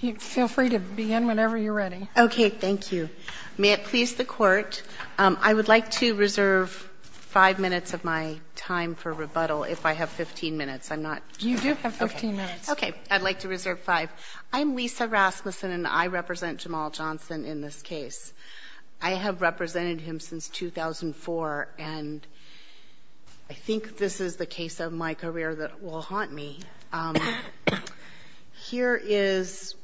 You feel free to begin whenever you're ready. Okay, thank you. May it please the Court, I would like to reserve five minutes of my time for rebuttal if I have 15 minutes. I'm not... You do have 15 minutes. Okay, I'd like to reserve five. I'm Lisa Rasmussen and I represent Jamal Johnson in this case. I have represented him since 2004 and I think this is the case of my career that will haunt me. Here is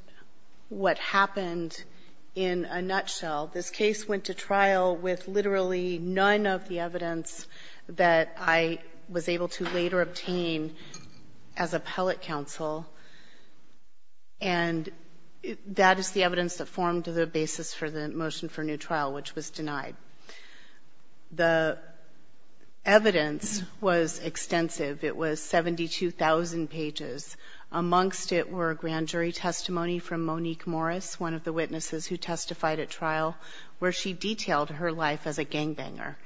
what happened in a nutshell. This case went to trial with literally none of the evidence that I was able to later obtain as appellate counsel and that is the evidence that formed the basis for the motion for new trial, which was denied. The evidence was extensive. It was 72,000 pages. Amongst it were a grand jury testimony from Monique Morris, one of the witnesses who testified at trial, where she detailed her life as a gangbanger.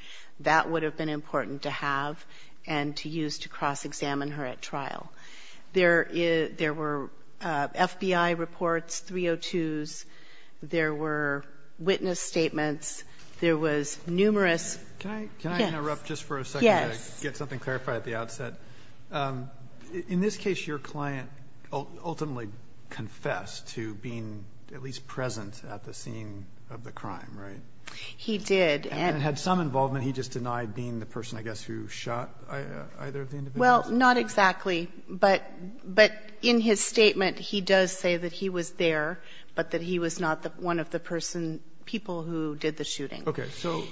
That would have been important to have and to use to cross-examine her at trial. There were FBI reports, 302s. There were witness statements. There was numerous... Can I interrupt just for a second to get something clarified at the outset? In this case, your client ultimately confessed to being at least present at the scene of the crime, right? He did. And had some involvement, he just denied being the person, I guess, who shot either of the individuals? Well, not exactly. But in his statement, he does say that he was there, but that he was not one of the people who did the shooting. Okay. So,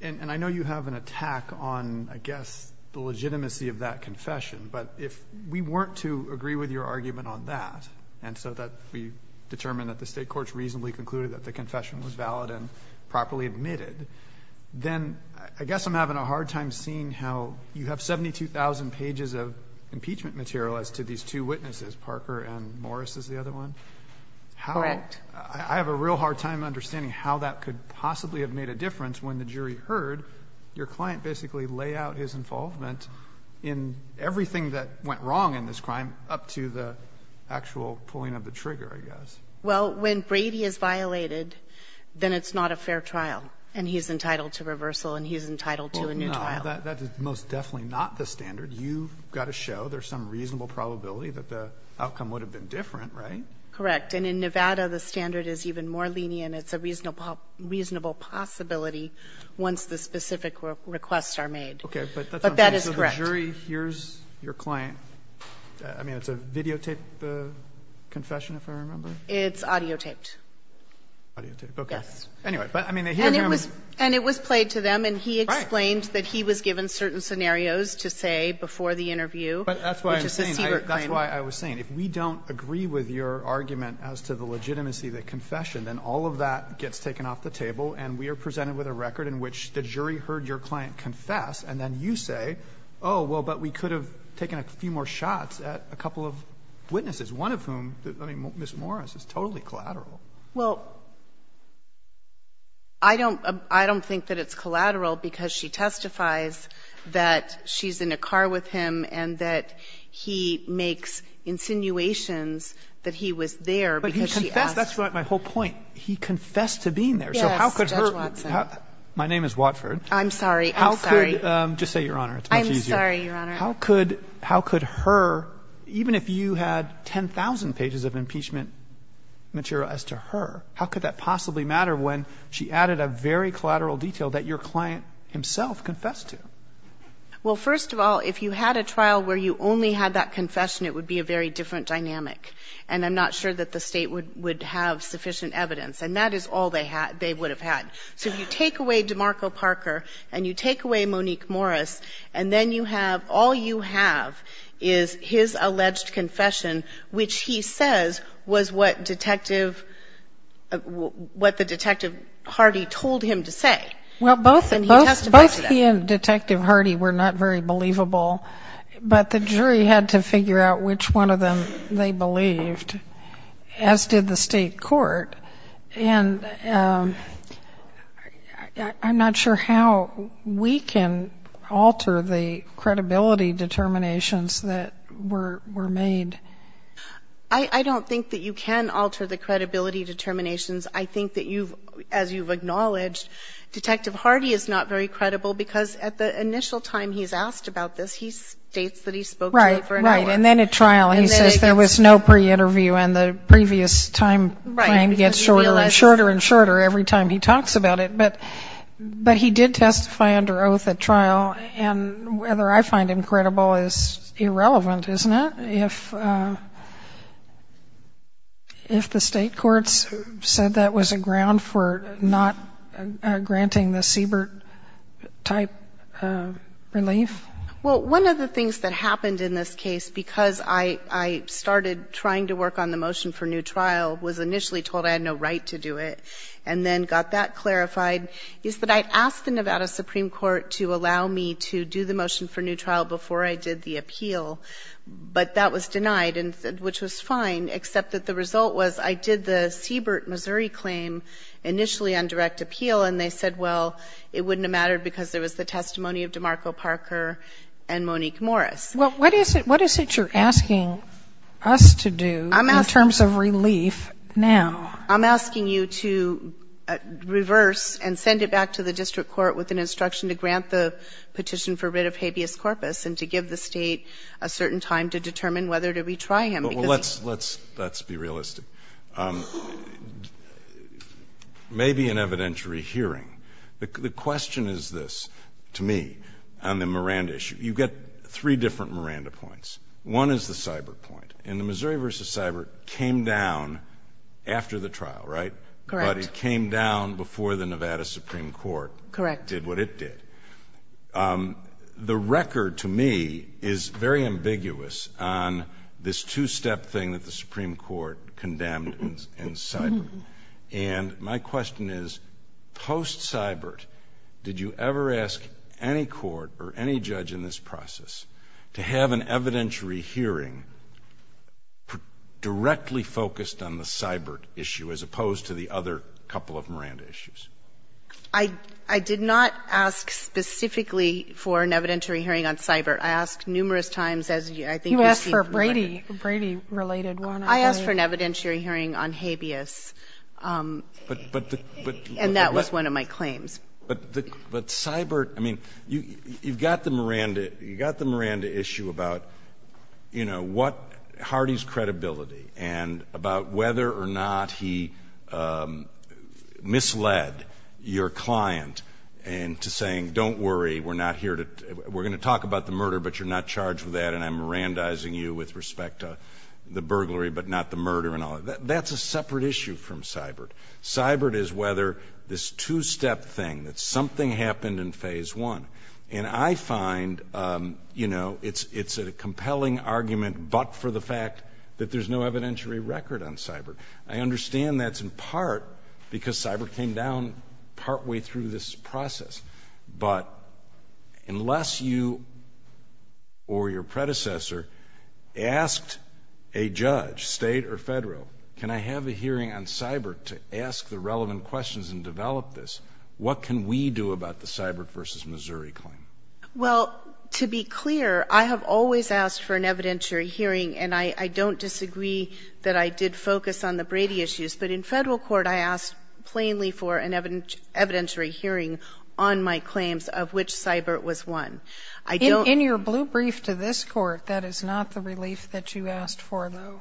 and I know you have an attack on, I guess, the legitimacy of that confession, but if we weren't to agree with your argument on that, and so that we determine that the State courts reasonably concluded that the confession was valid and properly admitted, then I guess I'm having a hard time seeing how you have 72,000 pages of impeachment material as to these two witnesses, Parker and Morris is the other one. Correct. I have a real hard time understanding how that could possibly have made a difference when the jury heard your client basically lay out his involvement in everything that went wrong in this crime up to the actual pulling of the trigger, I guess. Well, when Brady is violated, then it's not a fair trial, and he's entitled to reversal, and he's entitled to a new trial. Well, no. That is most definitely not the standard. You've got to show there's some reasonable probability that the outcome would have been different, right? Correct. And in Nevada, the standard is even more lenient. It's a reasonable possibility once the specific requests are made. Okay. But that's what I'm saying. But that is correct. So the jury hears your client. I mean, it's a videotape confession, if I remember? It's audiotaped. Audiotaped. Okay. Yes. Anyway, but I mean, they hear him and they... And it was played to them, and he explained that he was given certain scenarios to say before the interview, which is his secret claim. But that's why I'm saying, that's why I was saying, if we don't agree with your argument as to the legitimacy of the confession, then all of that gets taken off the table, and we are presented with a record in which the jury heard your client confess, and then you say, oh, well, but we could have taken a few more shots at a couple of witnesses, one of whom, I mean, Ms. Morris, is totally collateral. Well, I don't think that it's collateral because she testifies that she's in a car with him and that he makes insinuations that he was there because she asked... But he confessed, that's right, my whole point. He confessed to being there. Yes, Judge Watson. So how could her... My name is Watford. I'm sorry. I'm sorry. How could... Just say, Your Honor, it's much easier. I'm sorry, Your Honor. How could her, even if you had 10,000 pages of impeachment material as to her, how could that possibly matter when she added a very collateral detail that your client himself confessed to? Well, first of all, if you had a trial where you only had that confession, it would be a very different dynamic, and I'm not sure that the State would have sufficient evidence, and that is all they would have had. So if you take away DeMarco Parker and you take away Monique Morris, and then you have... All you have is his alleged confession, which he says was what Detective... What the Detective Hardy told him to say. Well, both he and Detective Hardy were not very believable, but the jury had to figure out which one of them they believed, as did the State Court, and I'm not sure how we can alter the credibility determinations that were made. I don't think that you can alter the credibility determinations. I think that you've, as you've acknowledged, Detective Hardy is not very credible because at the initial time he's asked about this, he states that he spoke to her for an hour. Right, right, and then at trial he says there was no pre-interview, and the previous time frame gets shorter and shorter and shorter every time he talks about it, but he did testify under oath at trial, and whether I find him credible is irrelevant, isn't it, if the State Courts said that was a ground for not granting the Siebert-type relief? Well, one of the things that happened in this case, because I started trying to work on the motion for new trial, was initially told I had no right to do it, and then got that clarified, is that I asked the Nevada Supreme Court to allow me to do the motion for new trial before I did the appeal, but that was denied, which was fine, except that the result was I did the Siebert, Missouri claim initially on direct appeal, and they said, well, it wouldn't have mattered because there was the testimony of DeMarco Parker and Monique Morris. Well, what is it you're asking us to do in terms of relief now? I'm asking you to reverse and send it back to the district court with an instruction to grant the petition for writ of habeas corpus, and to give the State a certain time to determine whether to retry him. Well, let's be realistic. It may be an evidentiary hearing. The question is this, to me, on the Miranda issue. You get three different Miranda points. One is the Siebert point, and the Missouri v. Siebert came down after the trial, right? Correct. But it came down before the Nevada Supreme Court did what it did. The record, to me, is very ambiguous on this two-step thing that the Supreme Court condemned in Siebert. And my question is, post-Siebert, did you ever ask any court or any judge in this process to have an evidentiary hearing directly focused on the Siebert issue as opposed to the other couple of Miranda issues? I did not ask specifically for an evidentiary hearing on Siebert. I asked numerous times, as I think you see. You asked for a Brady-related one. I asked for an evidentiary hearing on habeas. And that was one of my claims. But Siebert, I mean, you've got the Miranda issue about, you know, what Hardee's credibility, and about whether or not he misled your client into saying, don't worry, we're not here to — we're going to talk about the murder, but you're not charged with that, and I'm Mirandizing you with respect to the burglary, but not the murder and all that. That's a separate issue from Siebert. Siebert is whether this two-step thing, that something happened in phase one. And I find, you know, it's a compelling argument but for the fact that there's no evidentiary record on Siebert. I understand that's in part because Siebert came down partway through this process. But unless you or your predecessor asked a judge, state or federal, can I have a hearing on Siebert to ask the relevant questions and develop this, what can we do about the Missouri claim? Well, to be clear, I have always asked for an evidentiary hearing, and I don't disagree that I did focus on the Brady issues. But in federal court, I asked plainly for an evidentiary hearing on my claims of which Siebert was one. I don't — In your blue brief to this court, that is not the relief that you asked for, though.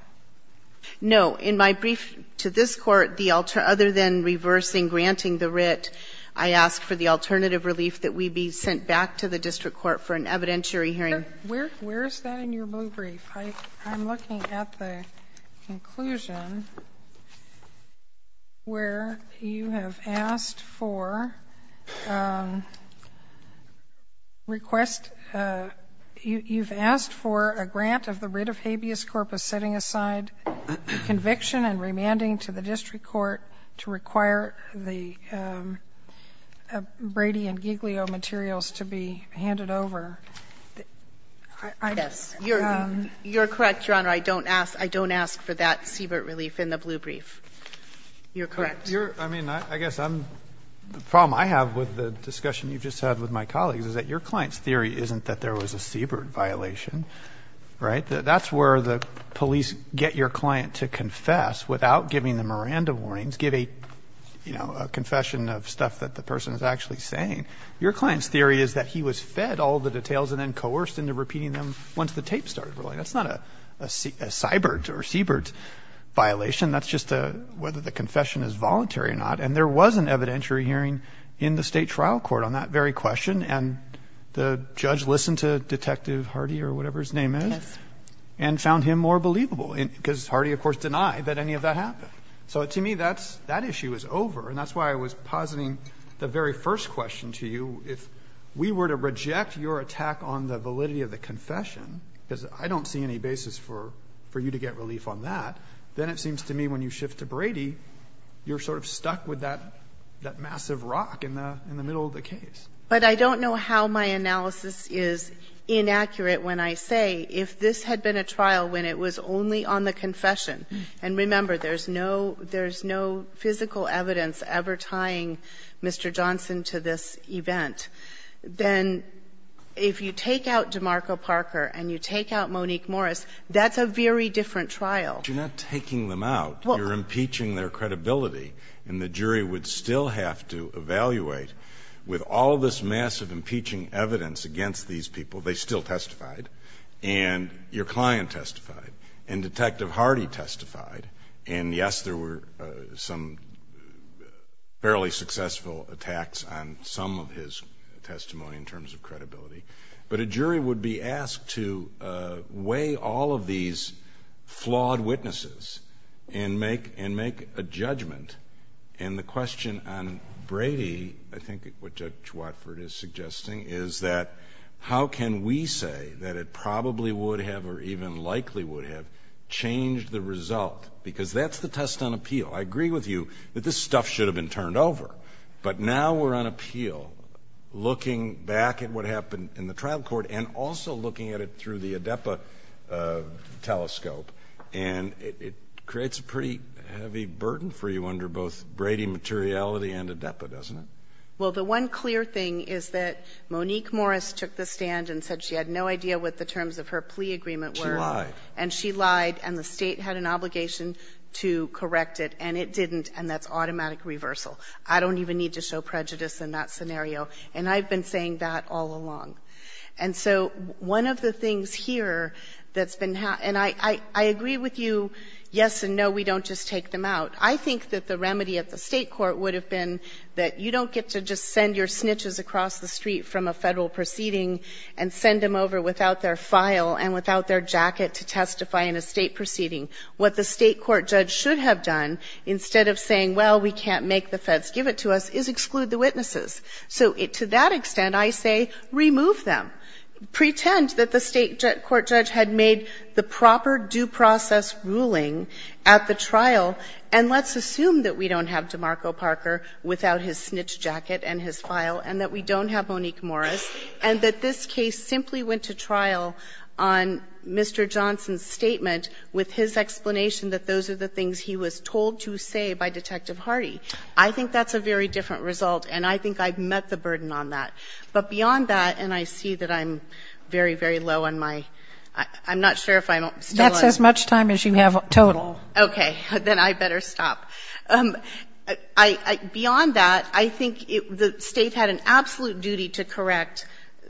No. In my brief to this court, other than reversing granting the writ, I asked for the written written evidence to be sent back to the district court for an evidentiary hearing. Where is that in your blue brief? I'm looking at the conclusion where you have asked for request — you've asked for a grant of the writ of habeas corpus setting aside the conviction and remanding to the district court to require the Brady and Giglio materials to be handed over. Yes, you're correct, Your Honor. I don't ask for that Siebert relief in the blue brief. You're correct. You're — I mean, I guess I'm — the problem I have with the discussion you've just had with my colleagues is that your client's theory isn't that there was a Siebert violation, right? That's where the police get your client to confess without giving them a rand of warnings, give a, you know, a confession of stuff that the person is actually saying. Your client's theory is that he was fed all the details and then coerced into repeating them once the tape started rolling. That's not a Siebert or Siebert violation. That's just a — whether the confession is voluntary or not. And there was an evidentiary hearing in the state trial court on that very question. And the judge listened to Detective Hardy or whatever his name is? And found him more believable, because Hardy, of course, denied that any of that happened. So to me, that issue is over. And that's why I was positing the very first question to you. If we were to reject your attack on the validity of the confession, because I don't see any basis for you to get relief on that, then it seems to me when you shift to Brady, you're sort of stuck with that massive rock in the middle of the case. But I don't know how my analysis is inaccurate when I say if this had been a trial when it was only on the confession — and remember, there's no — there's no physical evidence ever tying Mr. Johnson to this event — then if you take out DeMarco Parker and you take out Monique Morris, that's a very different trial. You're not taking them out. You're impeaching their credibility. And the jury would still have to evaluate, with all this massive impeaching evidence against these people — they still testified, and your client testified, and Detective Hardy testified, and yes, there were some fairly successful attacks on some of his testimony in terms of credibility — but a jury would be asked to weigh all of these flawed witnesses and make a judgment. And the question on Brady, I think what Judge Watford is suggesting, is that how can we say that it probably would have or even likely would have changed the result? Because that's the test on appeal. I agree with you that this stuff should have been turned over, but now we're on appeal looking back at what happened in the trial court and also looking at it through the ADEPA telescope, and it creates a pretty heavy burden for you under both Brady materiality and ADEPA, doesn't it? Well, the one clear thing is that Monique Morris took the stand and said she had no idea what the terms of her plea agreement were. She lied. And she lied, and the state had an obligation to correct it, and it didn't, and that's automatic reversal. I don't even need to show prejudice in that scenario, and I've been saying that all along. And so one of the things here that's been, and I agree with you, yes and no, we don't just take them out. I think that the remedy at the state court would have been that you don't get to just send your snitches across the street from a federal proceeding and send them over without their file and without their jacket to testify in a state proceeding. What the state court judge should have done, instead of saying, well, we can't make the feds give it to us, is exclude the witnesses. So to that extent, I say remove them. Pretend that the state court judge had made the proper due process ruling at the trial, and let's assume that we don't have DeMarco Parker without his snitch jacket and his file, and that we don't have Monique Morris, and that this case simply went to trial on Mr. Johnson's statement with his explanation that those are the things he was told to say by Detective Hardy. I think that's a very different result, and I think I've met the burden on that. But beyond that, and I see that I'm very, very low on my ‑‑ I'm not sure if I'm still on. That's as much time as you have total. Okay. Then I better stop. Beyond that, I think the State had an absolute duty to correct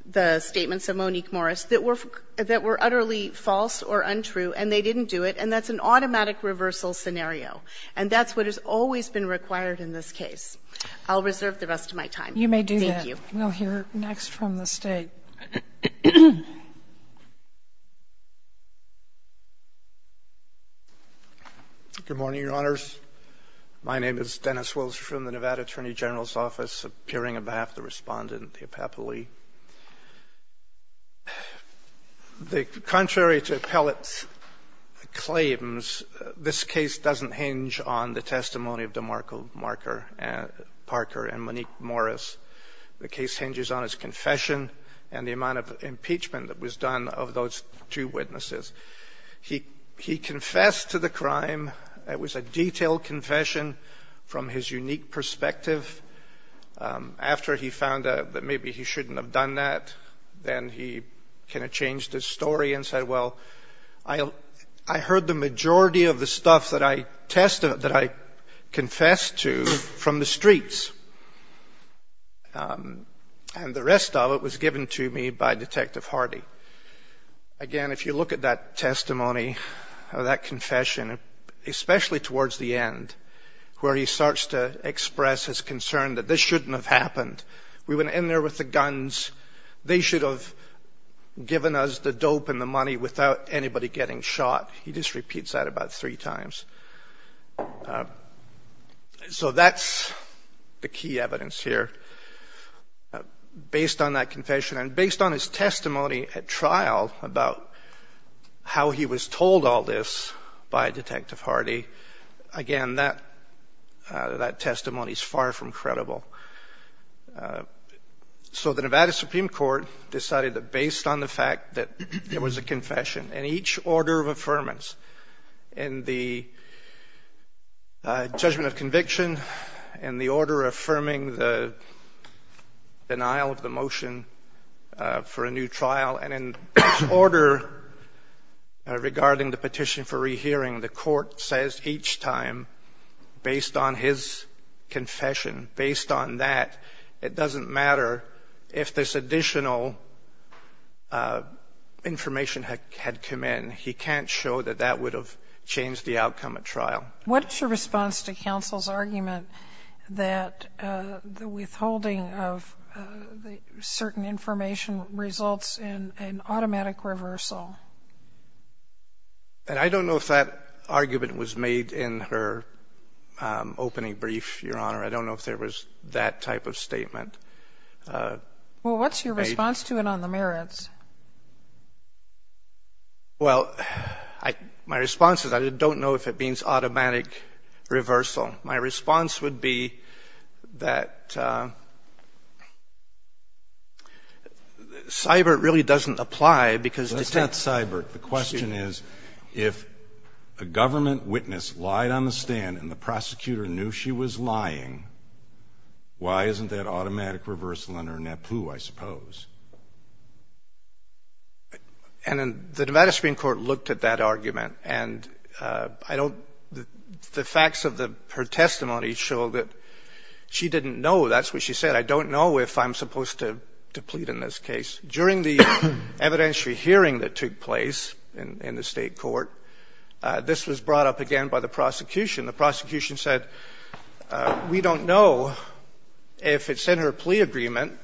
the statements of Monique Morris that were utterly false or untrue, and they didn't do it, and that's an automatic reversal scenario. And that's what has always been required in this case. I'll reserve the rest of my time. You may do that. Thank you. We'll hear next from the State. Good morning, Your Honors. My name is Dennis Wilser from the Nevada Attorney General's Office, appearing on behalf of the Respondent, Theopapa Lee. Contrary to Pellitt's claims, this case doesn't hinge on the testimony of DeMarco Parker and Monique Morris. The case hinges on his confession and the amount of impeachment that was done of those two witnesses. He confessed to the crime. It was a detailed confession from his unique perspective. After he found out that maybe he shouldn't have done that, then he kind of changed his story and said, well, I heard the majority of the stuff that I confessed to from the streets, and the rest of it was given to me by Detective Hardy. Again, if you look at that testimony, that confession, especially towards the end, where he starts to express his concern that this shouldn't have happened. We went in there with the guns. They should have given us the dope and the money without anybody getting shot. He just repeats that about three times. So that's the key evidence here. Based on that confession and based on his testimony at trial about how he was told all this by Detective Hardy, again, that testimony is far from credible. So the Nevada Supreme Court decided that based on the fact that there was a confession and each order of affirmance in the judgment of conviction and the order affirming the denial of the motion for a new trial and in order regarding the petition for rehearing, the court says each time, based on his confession, based on that, it doesn't matter if this additional information had come in. He can't show that that would have changed the outcome at trial. What's your response to counsel's argument that the withholding of certain information results in an automatic reversal? And I don't know if that argument was made in her opening brief, Your Honor. I don't know if there was that type of statement. Well, what's your response to it on the merits? Well, my response is I don't know if it means automatic reversal. My response would be that CYBIRT really doesn't apply because It's not CYBIRT. The question is, if a government witness lied on the stand and the prosecutor knew she was lying, why isn't that automatic reversal under NAPU, I suppose? And the Nevada Supreme Court looked at that argument, and I don't the facts of her testimony show that she didn't know. That's what she said. I don't know if I'm supposed to plead in this case. During the evidentiary hearing that took place in the State Court, this was brought up again by the prosecution. The prosecution said, we don't know if it's in her plea agreement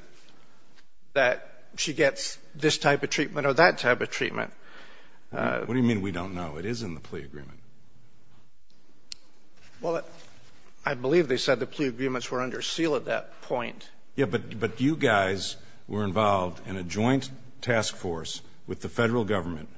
that she's going to get this type of treatment or that type of treatment. What do you mean, we don't know? It is in the plea agreement. Well, I believe they said the plea agreements were under seal at that point. Yeah, but you guys were involved in a joint task force with the federal government.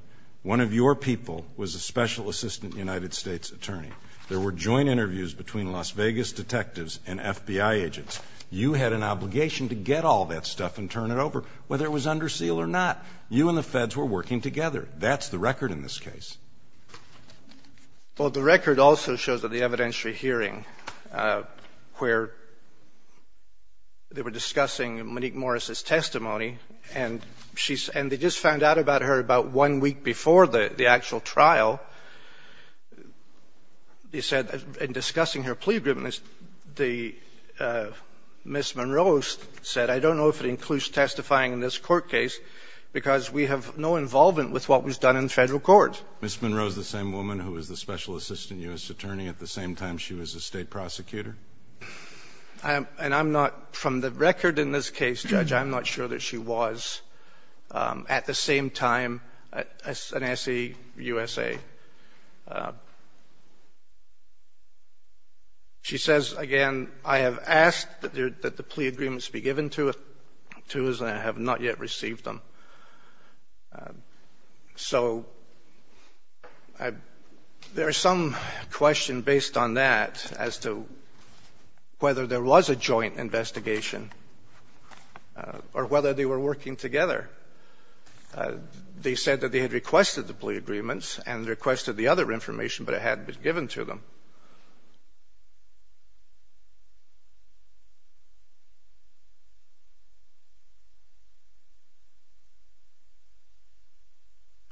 One of your people was a special assistant United States attorney. There were joint interviews between Las Vegas detectives and FBI agents. You had an obligation to get all that stuff and turn it over, whether it was under seal or not. You and the feds were working together. That's the record in this case. Well, the record also shows at the evidentiary hearing where they were discussing Monique Morris's testimony, and she's — and they just found out about her about one week before the actual trial. They said, in discussing her plea agreement, Ms. Monroe said, I don't know if it includes testifying in this court case because we have no involvement with what was done in federal court. Ms. Monroe is the same woman who was the special assistant U.S. attorney at the same time she was a state prosecutor? And I'm not — from the record in this case, Judge, I'm not sure that she was at the same time as an S.E.U.S.A. She says, again, I have asked that the plea agreements be given to us, and I have not yet received them. So there is some question based on that as to whether there was a joint investigation or whether they were working together. They said that they had requested the plea agreements and requested the other information, but it hadn't been given to them.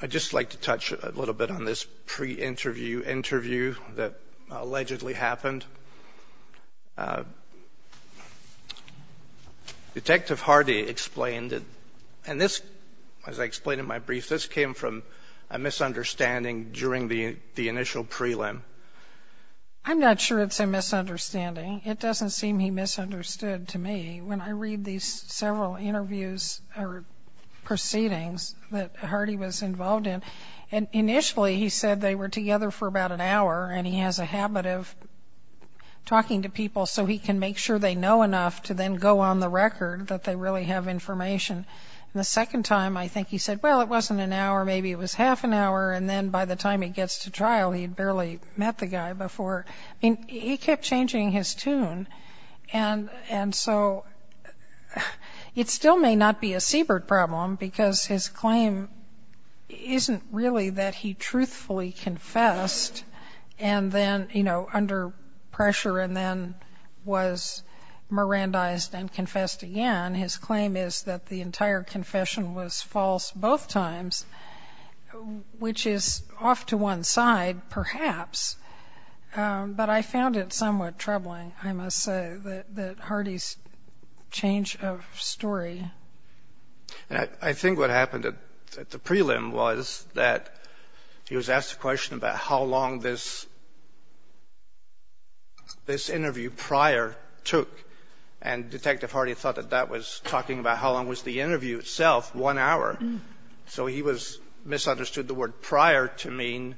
I'd just like to touch a little bit on this pre-interview interview that allegedly happened. Detective Hardy explained it. And this, as I explained in my brief, this came from a misunderstanding during the initial prelim. I'm not sure it's a misunderstanding. It doesn't seem he misunderstood to me. When I read these several interviews or proceedings that Hardy was involved in — and talking to people so he can make sure they know enough to then go on the record that they really have information. And the second time, I think he said, well, it wasn't an hour. Maybe it was half an hour. And then by the time he gets to trial, he had barely met the guy before. I mean, he kept changing his tune. And so it still may not be a Siebert problem because his claim isn't really that he truthfully confessed under pressure and then was Mirandized and confessed again. His claim is that the entire confession was false both times, which is off to one side, perhaps. But I found it somewhat troubling, I must say, that Hardy's change of story. And I think what happened at the prelim was that he was asked a question about how long this interview prior took. And Detective Hardy thought that that was talking about how long was the interview itself, one hour. So he misunderstood the word prior to mean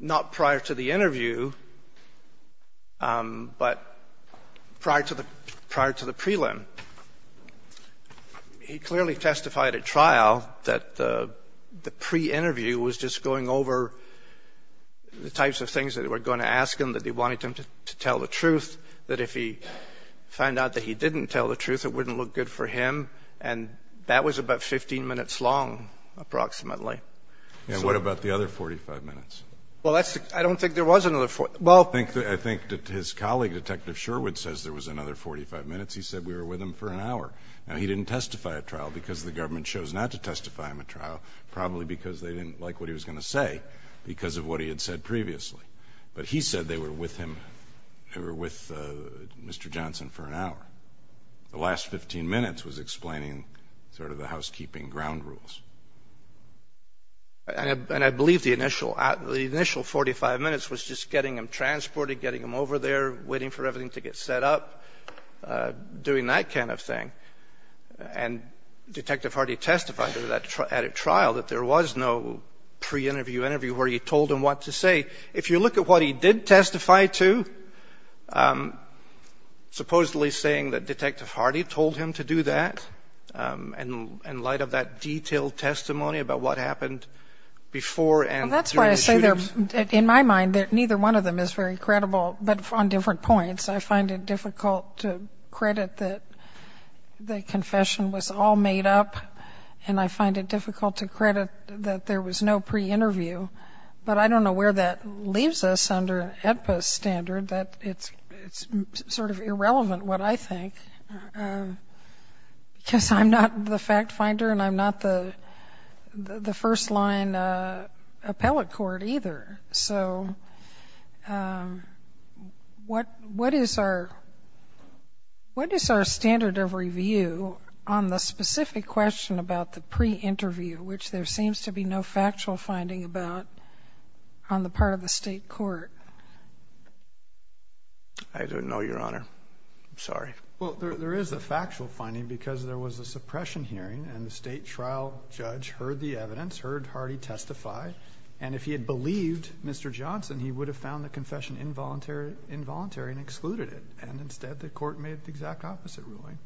not prior to the interview, but prior to the prelim. He clearly testified at trial that the pre-interview was just going over the types of things that they were going to ask him, that they wanted him to tell the truth, that if he found out that he didn't tell the truth, it wouldn't look good for him. And that was about 15 minutes long, approximately. And what about the other 45 minutes? Well, I don't think there was another 45. Well, I think that his colleague, Detective Sherwood, says there was another 45 minutes. He said we were with him for an hour. Now, he didn't testify at trial because the government chose not to testify him at trial, probably because they didn't like what he was going to say because of what he had said previously. But he said they were with him, they were with Mr. Johnson for an hour. The last 15 minutes was explaining sort of the housekeeping ground rules. And I believe the initial 45 minutes was just getting him transported, getting him over there, waiting for everything to get set up, doing that kind of thing. And Detective Hardy testified at a trial that there was no pre-interview interview where he told him what to say. If you look at what he did testify to, supposedly saying that Detective Hardy told him to do that in light of that detailed testimony about what happened before and during the shooting. Well, that's why I say there, in my mind, that neither one of them is very credible, but on different points. I find it difficult to credit that the confession was all made up, and I find it difficult to credit that there was no pre-interview. But I don't know where that leaves us under an AEDPA standard, that it's sort of irrelevant what I think, because I'm not the fact-finder and I'm not the first-line appellate court either. So what is our standard of review on the specific question about the pre-interview, which there seems to be no factual finding about on the part of the state court? I don't know, Your Honor. I'm sorry. Well, there is a factual finding because there was a suppression hearing and the state trial judge heard the evidence, heard Hardy testify. And if he had believed Mr. Johnson, he would have found the confession involuntary and excluded it. And instead, the court made the exact opposite ruling.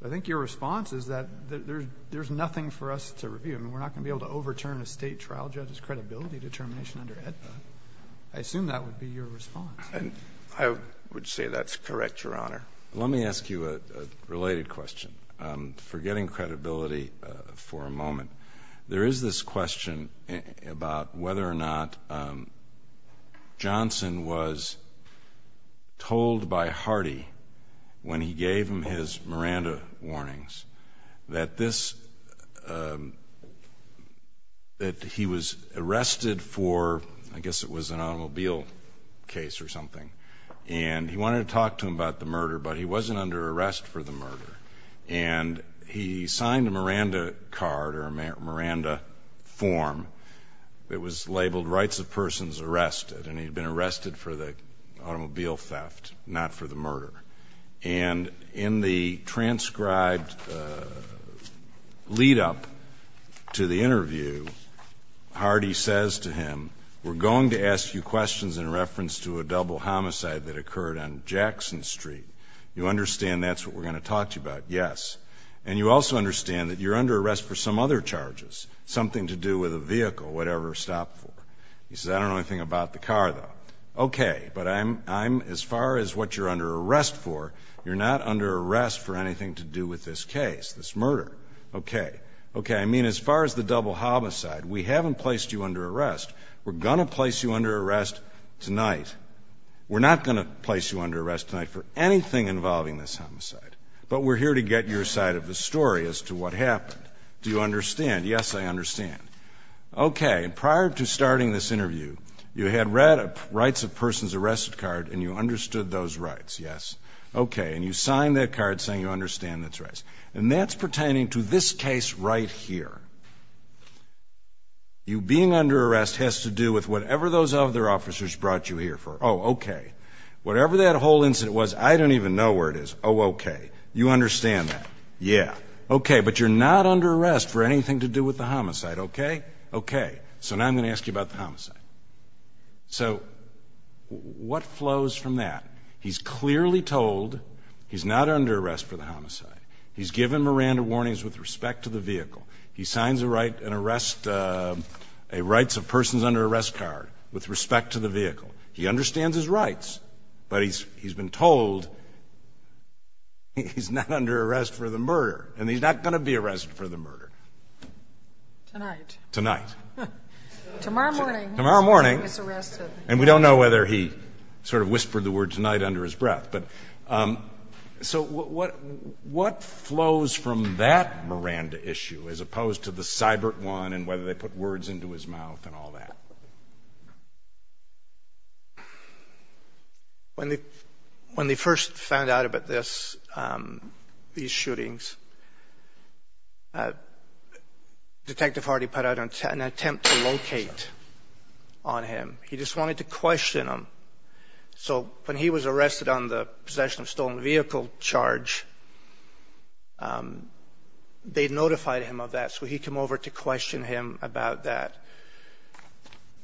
So I think your response is that there's nothing for us to review. I mean, we're not going to be able to overturn a state trial judge's credibility determination under AEDPA. I assume that would be your response. And I would say that's correct, Your Honor. Let me ask you a related question. Forgetting credibility for a moment. There is this question about whether or not Johnson was told by Hardy when he gave him his Miranda warnings that he was arrested for, I guess it was an automobile case or something. And he wanted to talk to him about the murder, but he wasn't under arrest for the murder. And he signed a Miranda card or a Miranda form that was labeled rights of persons arrested. And he'd been arrested for the automobile theft, not for the murder. And in the transcribed lead up to the interview, Hardy says to him, we're going to ask you questions in reference to a double homicide that occurred on Jackson Street. You understand that's what we're going to talk to you about? Yes. And you also understand that you're under arrest for some other charges, something to do with a vehicle, whatever, stop for. He says, I don't know anything about the car, though. OK, but I'm as far as what you're under arrest for, you're not under arrest for anything to do with this case, this murder. OK. OK, I mean, as far as the double homicide, we haven't placed you under arrest. We're going to place you under arrest tonight. We're not going to place you under arrest tonight for anything involving this homicide. But we're here to get your side of the story as to what happened. Do you understand? Yes, I understand. OK, and prior to starting this interview, you had read a rights of persons arrested card and you understood those rights. Yes. OK, and you signed that card saying you understand those rights. And that's pertaining to this case right here. You being under arrest has to do with whatever those other officers brought you here for. Oh, OK, whatever that whole incident was, I don't even know where it is. Oh, OK, you understand that. Yeah. OK, but you're not under arrest for anything to do with the homicide. OK? OK. So now I'm going to ask you about the homicide. So what flows from that? He's clearly told he's not under arrest for the homicide. He's given Miranda warnings with respect to the vehicle. He signs a rights of persons under arrest card with respect to the vehicle. He understands his rights, but he's been told he's not under arrest for the murder. And he's not going to be arrested for the murder. Tonight. Tonight. Tomorrow morning. Tomorrow morning. He's arrested. And we don't know whether he sort of whispered the word tonight under his breath. So what flows from that Miranda issue as opposed to the Sybert one and whether they put words into his mouth and all that? Well, when they first found out about this, these shootings, Detective Hardy put out an attempt to locate on him. He just wanted to question him. So when he was arrested on the possession of stolen vehicle charge, they notified him of that. So he come over to question him about that.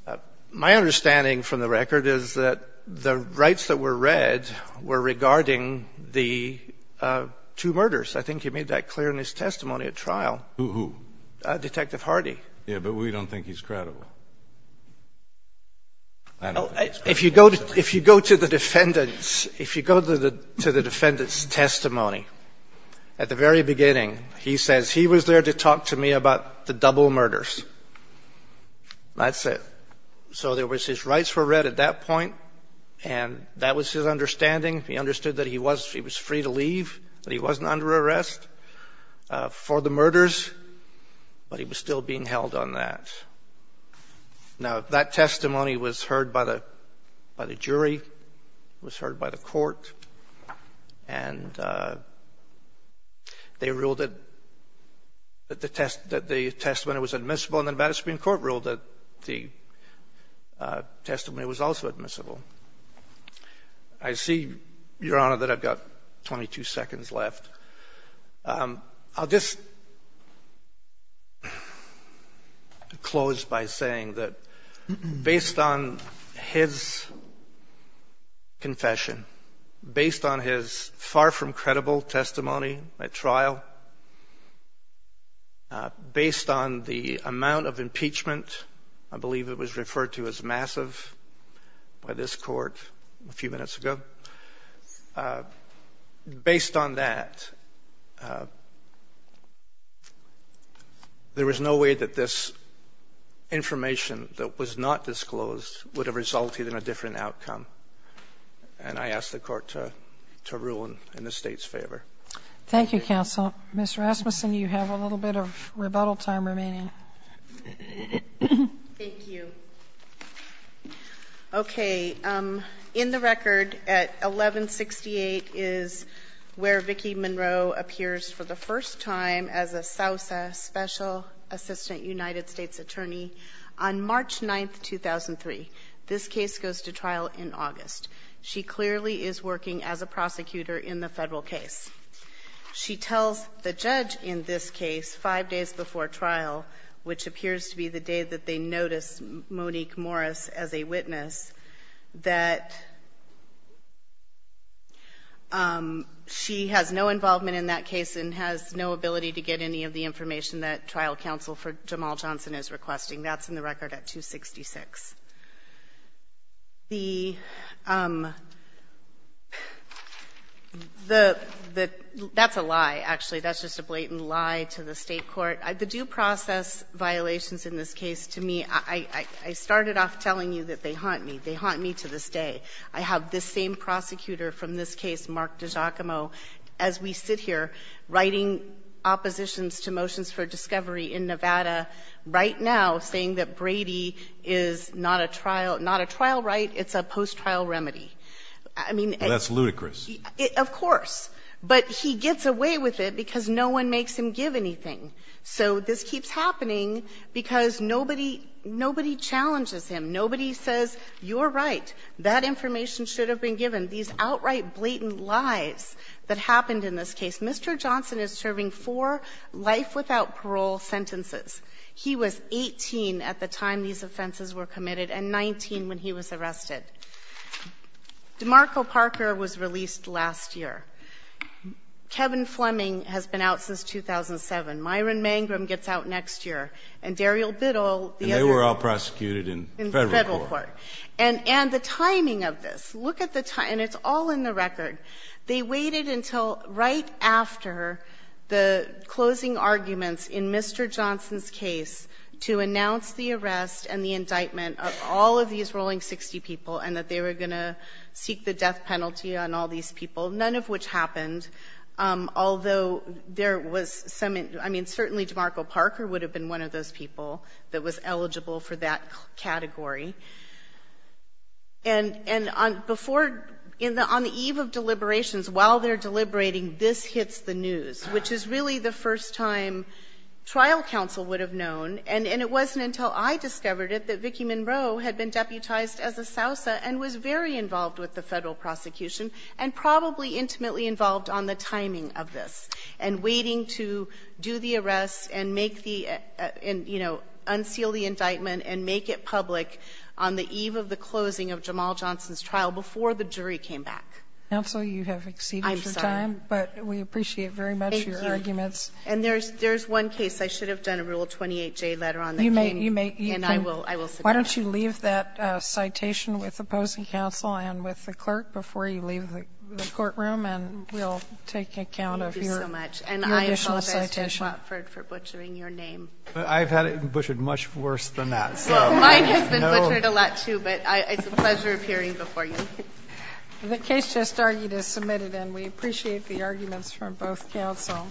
And my understanding from the record is that the rights that were read were regarding the two murders. I think he made that clear in his testimony at trial. Who? Detective Hardy. Yeah. But we don't think he's credible. If you go to the defendant's testimony at the very beginning, he says he was there to talk to me about the double murders. That's it. So there was his rights were read at that point. And that was his understanding. He understood that he was free to leave, that he wasn't under arrest for the murders. But he was still being held on that. Now, that testimony was heard by the jury, was heard by the court. And they ruled that the testimony was admissible. And the Madison Supreme Court ruled that the testimony was also admissible. I see, Your Honor, that I've got 22 seconds left. I'll just close by saying that based on his confession, based on his far from credible testimony at trial, based on the amount of impeachment, I believe it was referred to as massive by this court a few minutes ago. So based on that, there was no way that this information that was not disclosed would have resulted in a different outcome. And I ask the court to rule in the State's favor. Thank you, counsel. Ms. Rasmussen, you have a little bit of rebuttal time remaining. Thank you. Okay, in the record at 1168 is where Vicki Monroe appears for the first time as a SAUSA Special Assistant United States Attorney on March 9, 2003. This case goes to trial in August. She clearly is working as a prosecutor in the federal case. She tells the judge in this case five days before trial, which appears to be the day that they notice Monique Morris as a witness, that she has no involvement in that case and has no ability to get any of the information that trial counsel for Jamal Johnson is requesting. That's in the record at 266. That's a lie, actually. That's just a blatant lie to the state court. The due process violations in this case, to me, I started off telling you that they haunt me. They haunt me to this day. I have this same prosecutor from this case, Mark DiGiacomo, as we sit here writing oppositions to motions for discovery in Nevada right now saying that Brady is not a trial right. It's a post-trial remedy. I mean— Well, that's ludicrous. Of course. But he gets away with it because no one makes him give anything. So this keeps happening because nobody challenges him. Nobody says, you're right. That information should have been given. These outright blatant lies that happened in this case. Mr. Johnson is serving four life without parole sentences. He was 18 at the time these offenses were committed and 19 when he was arrested. DeMarco Parker was released last year. Kevin Fleming has been out since 2007. Myron Mangrum gets out next year. And Daryl Biddle— And they were all prosecuted in federal court. In federal court. And the timing of this. Look at the time. And it's all in the record. They waited until right after the closing arguments in Mr. Johnson's case to announce the arrest and the indictment of all of these Rolling 60 people and that they were going to seek the death penalty on all these people, none of which happened, although there was some—I mean, certainly DeMarco Parker would have been one of those people that was eligible for that category. And before—on the eve of deliberations, while they're deliberating, this hits the news, which is really the first time trial counsel would have known. And it wasn't until I discovered it that Vicki Monroe had been deputized as a Sousa and was very involved with the federal prosecution and probably intimately involved on the timing of this, and waiting to do the arrest and make the—and, you know, unseal the indictment and make it public on the eve of the closing of Jamal Johnson's trial before the jury came back. Counsel, you have exceeded your time. I'm sorry. But we appreciate very much your arguments. Thank you. And there's one case I should have done a Rule 28J letter on that case. You may— And I will submit it. Why don't you leave that citation with opposing counsel and with the clerk before you leave the courtroom, and we'll take account of your— Thank you so much. —your additional citation. And I apologize to Watford for butchering your name. I've had it butchered much worse than that, so— Well, mine has been butchered a lot, too, but it's a pleasure appearing before you. The case just argued is submitted, and we appreciate the arguments from both counsel.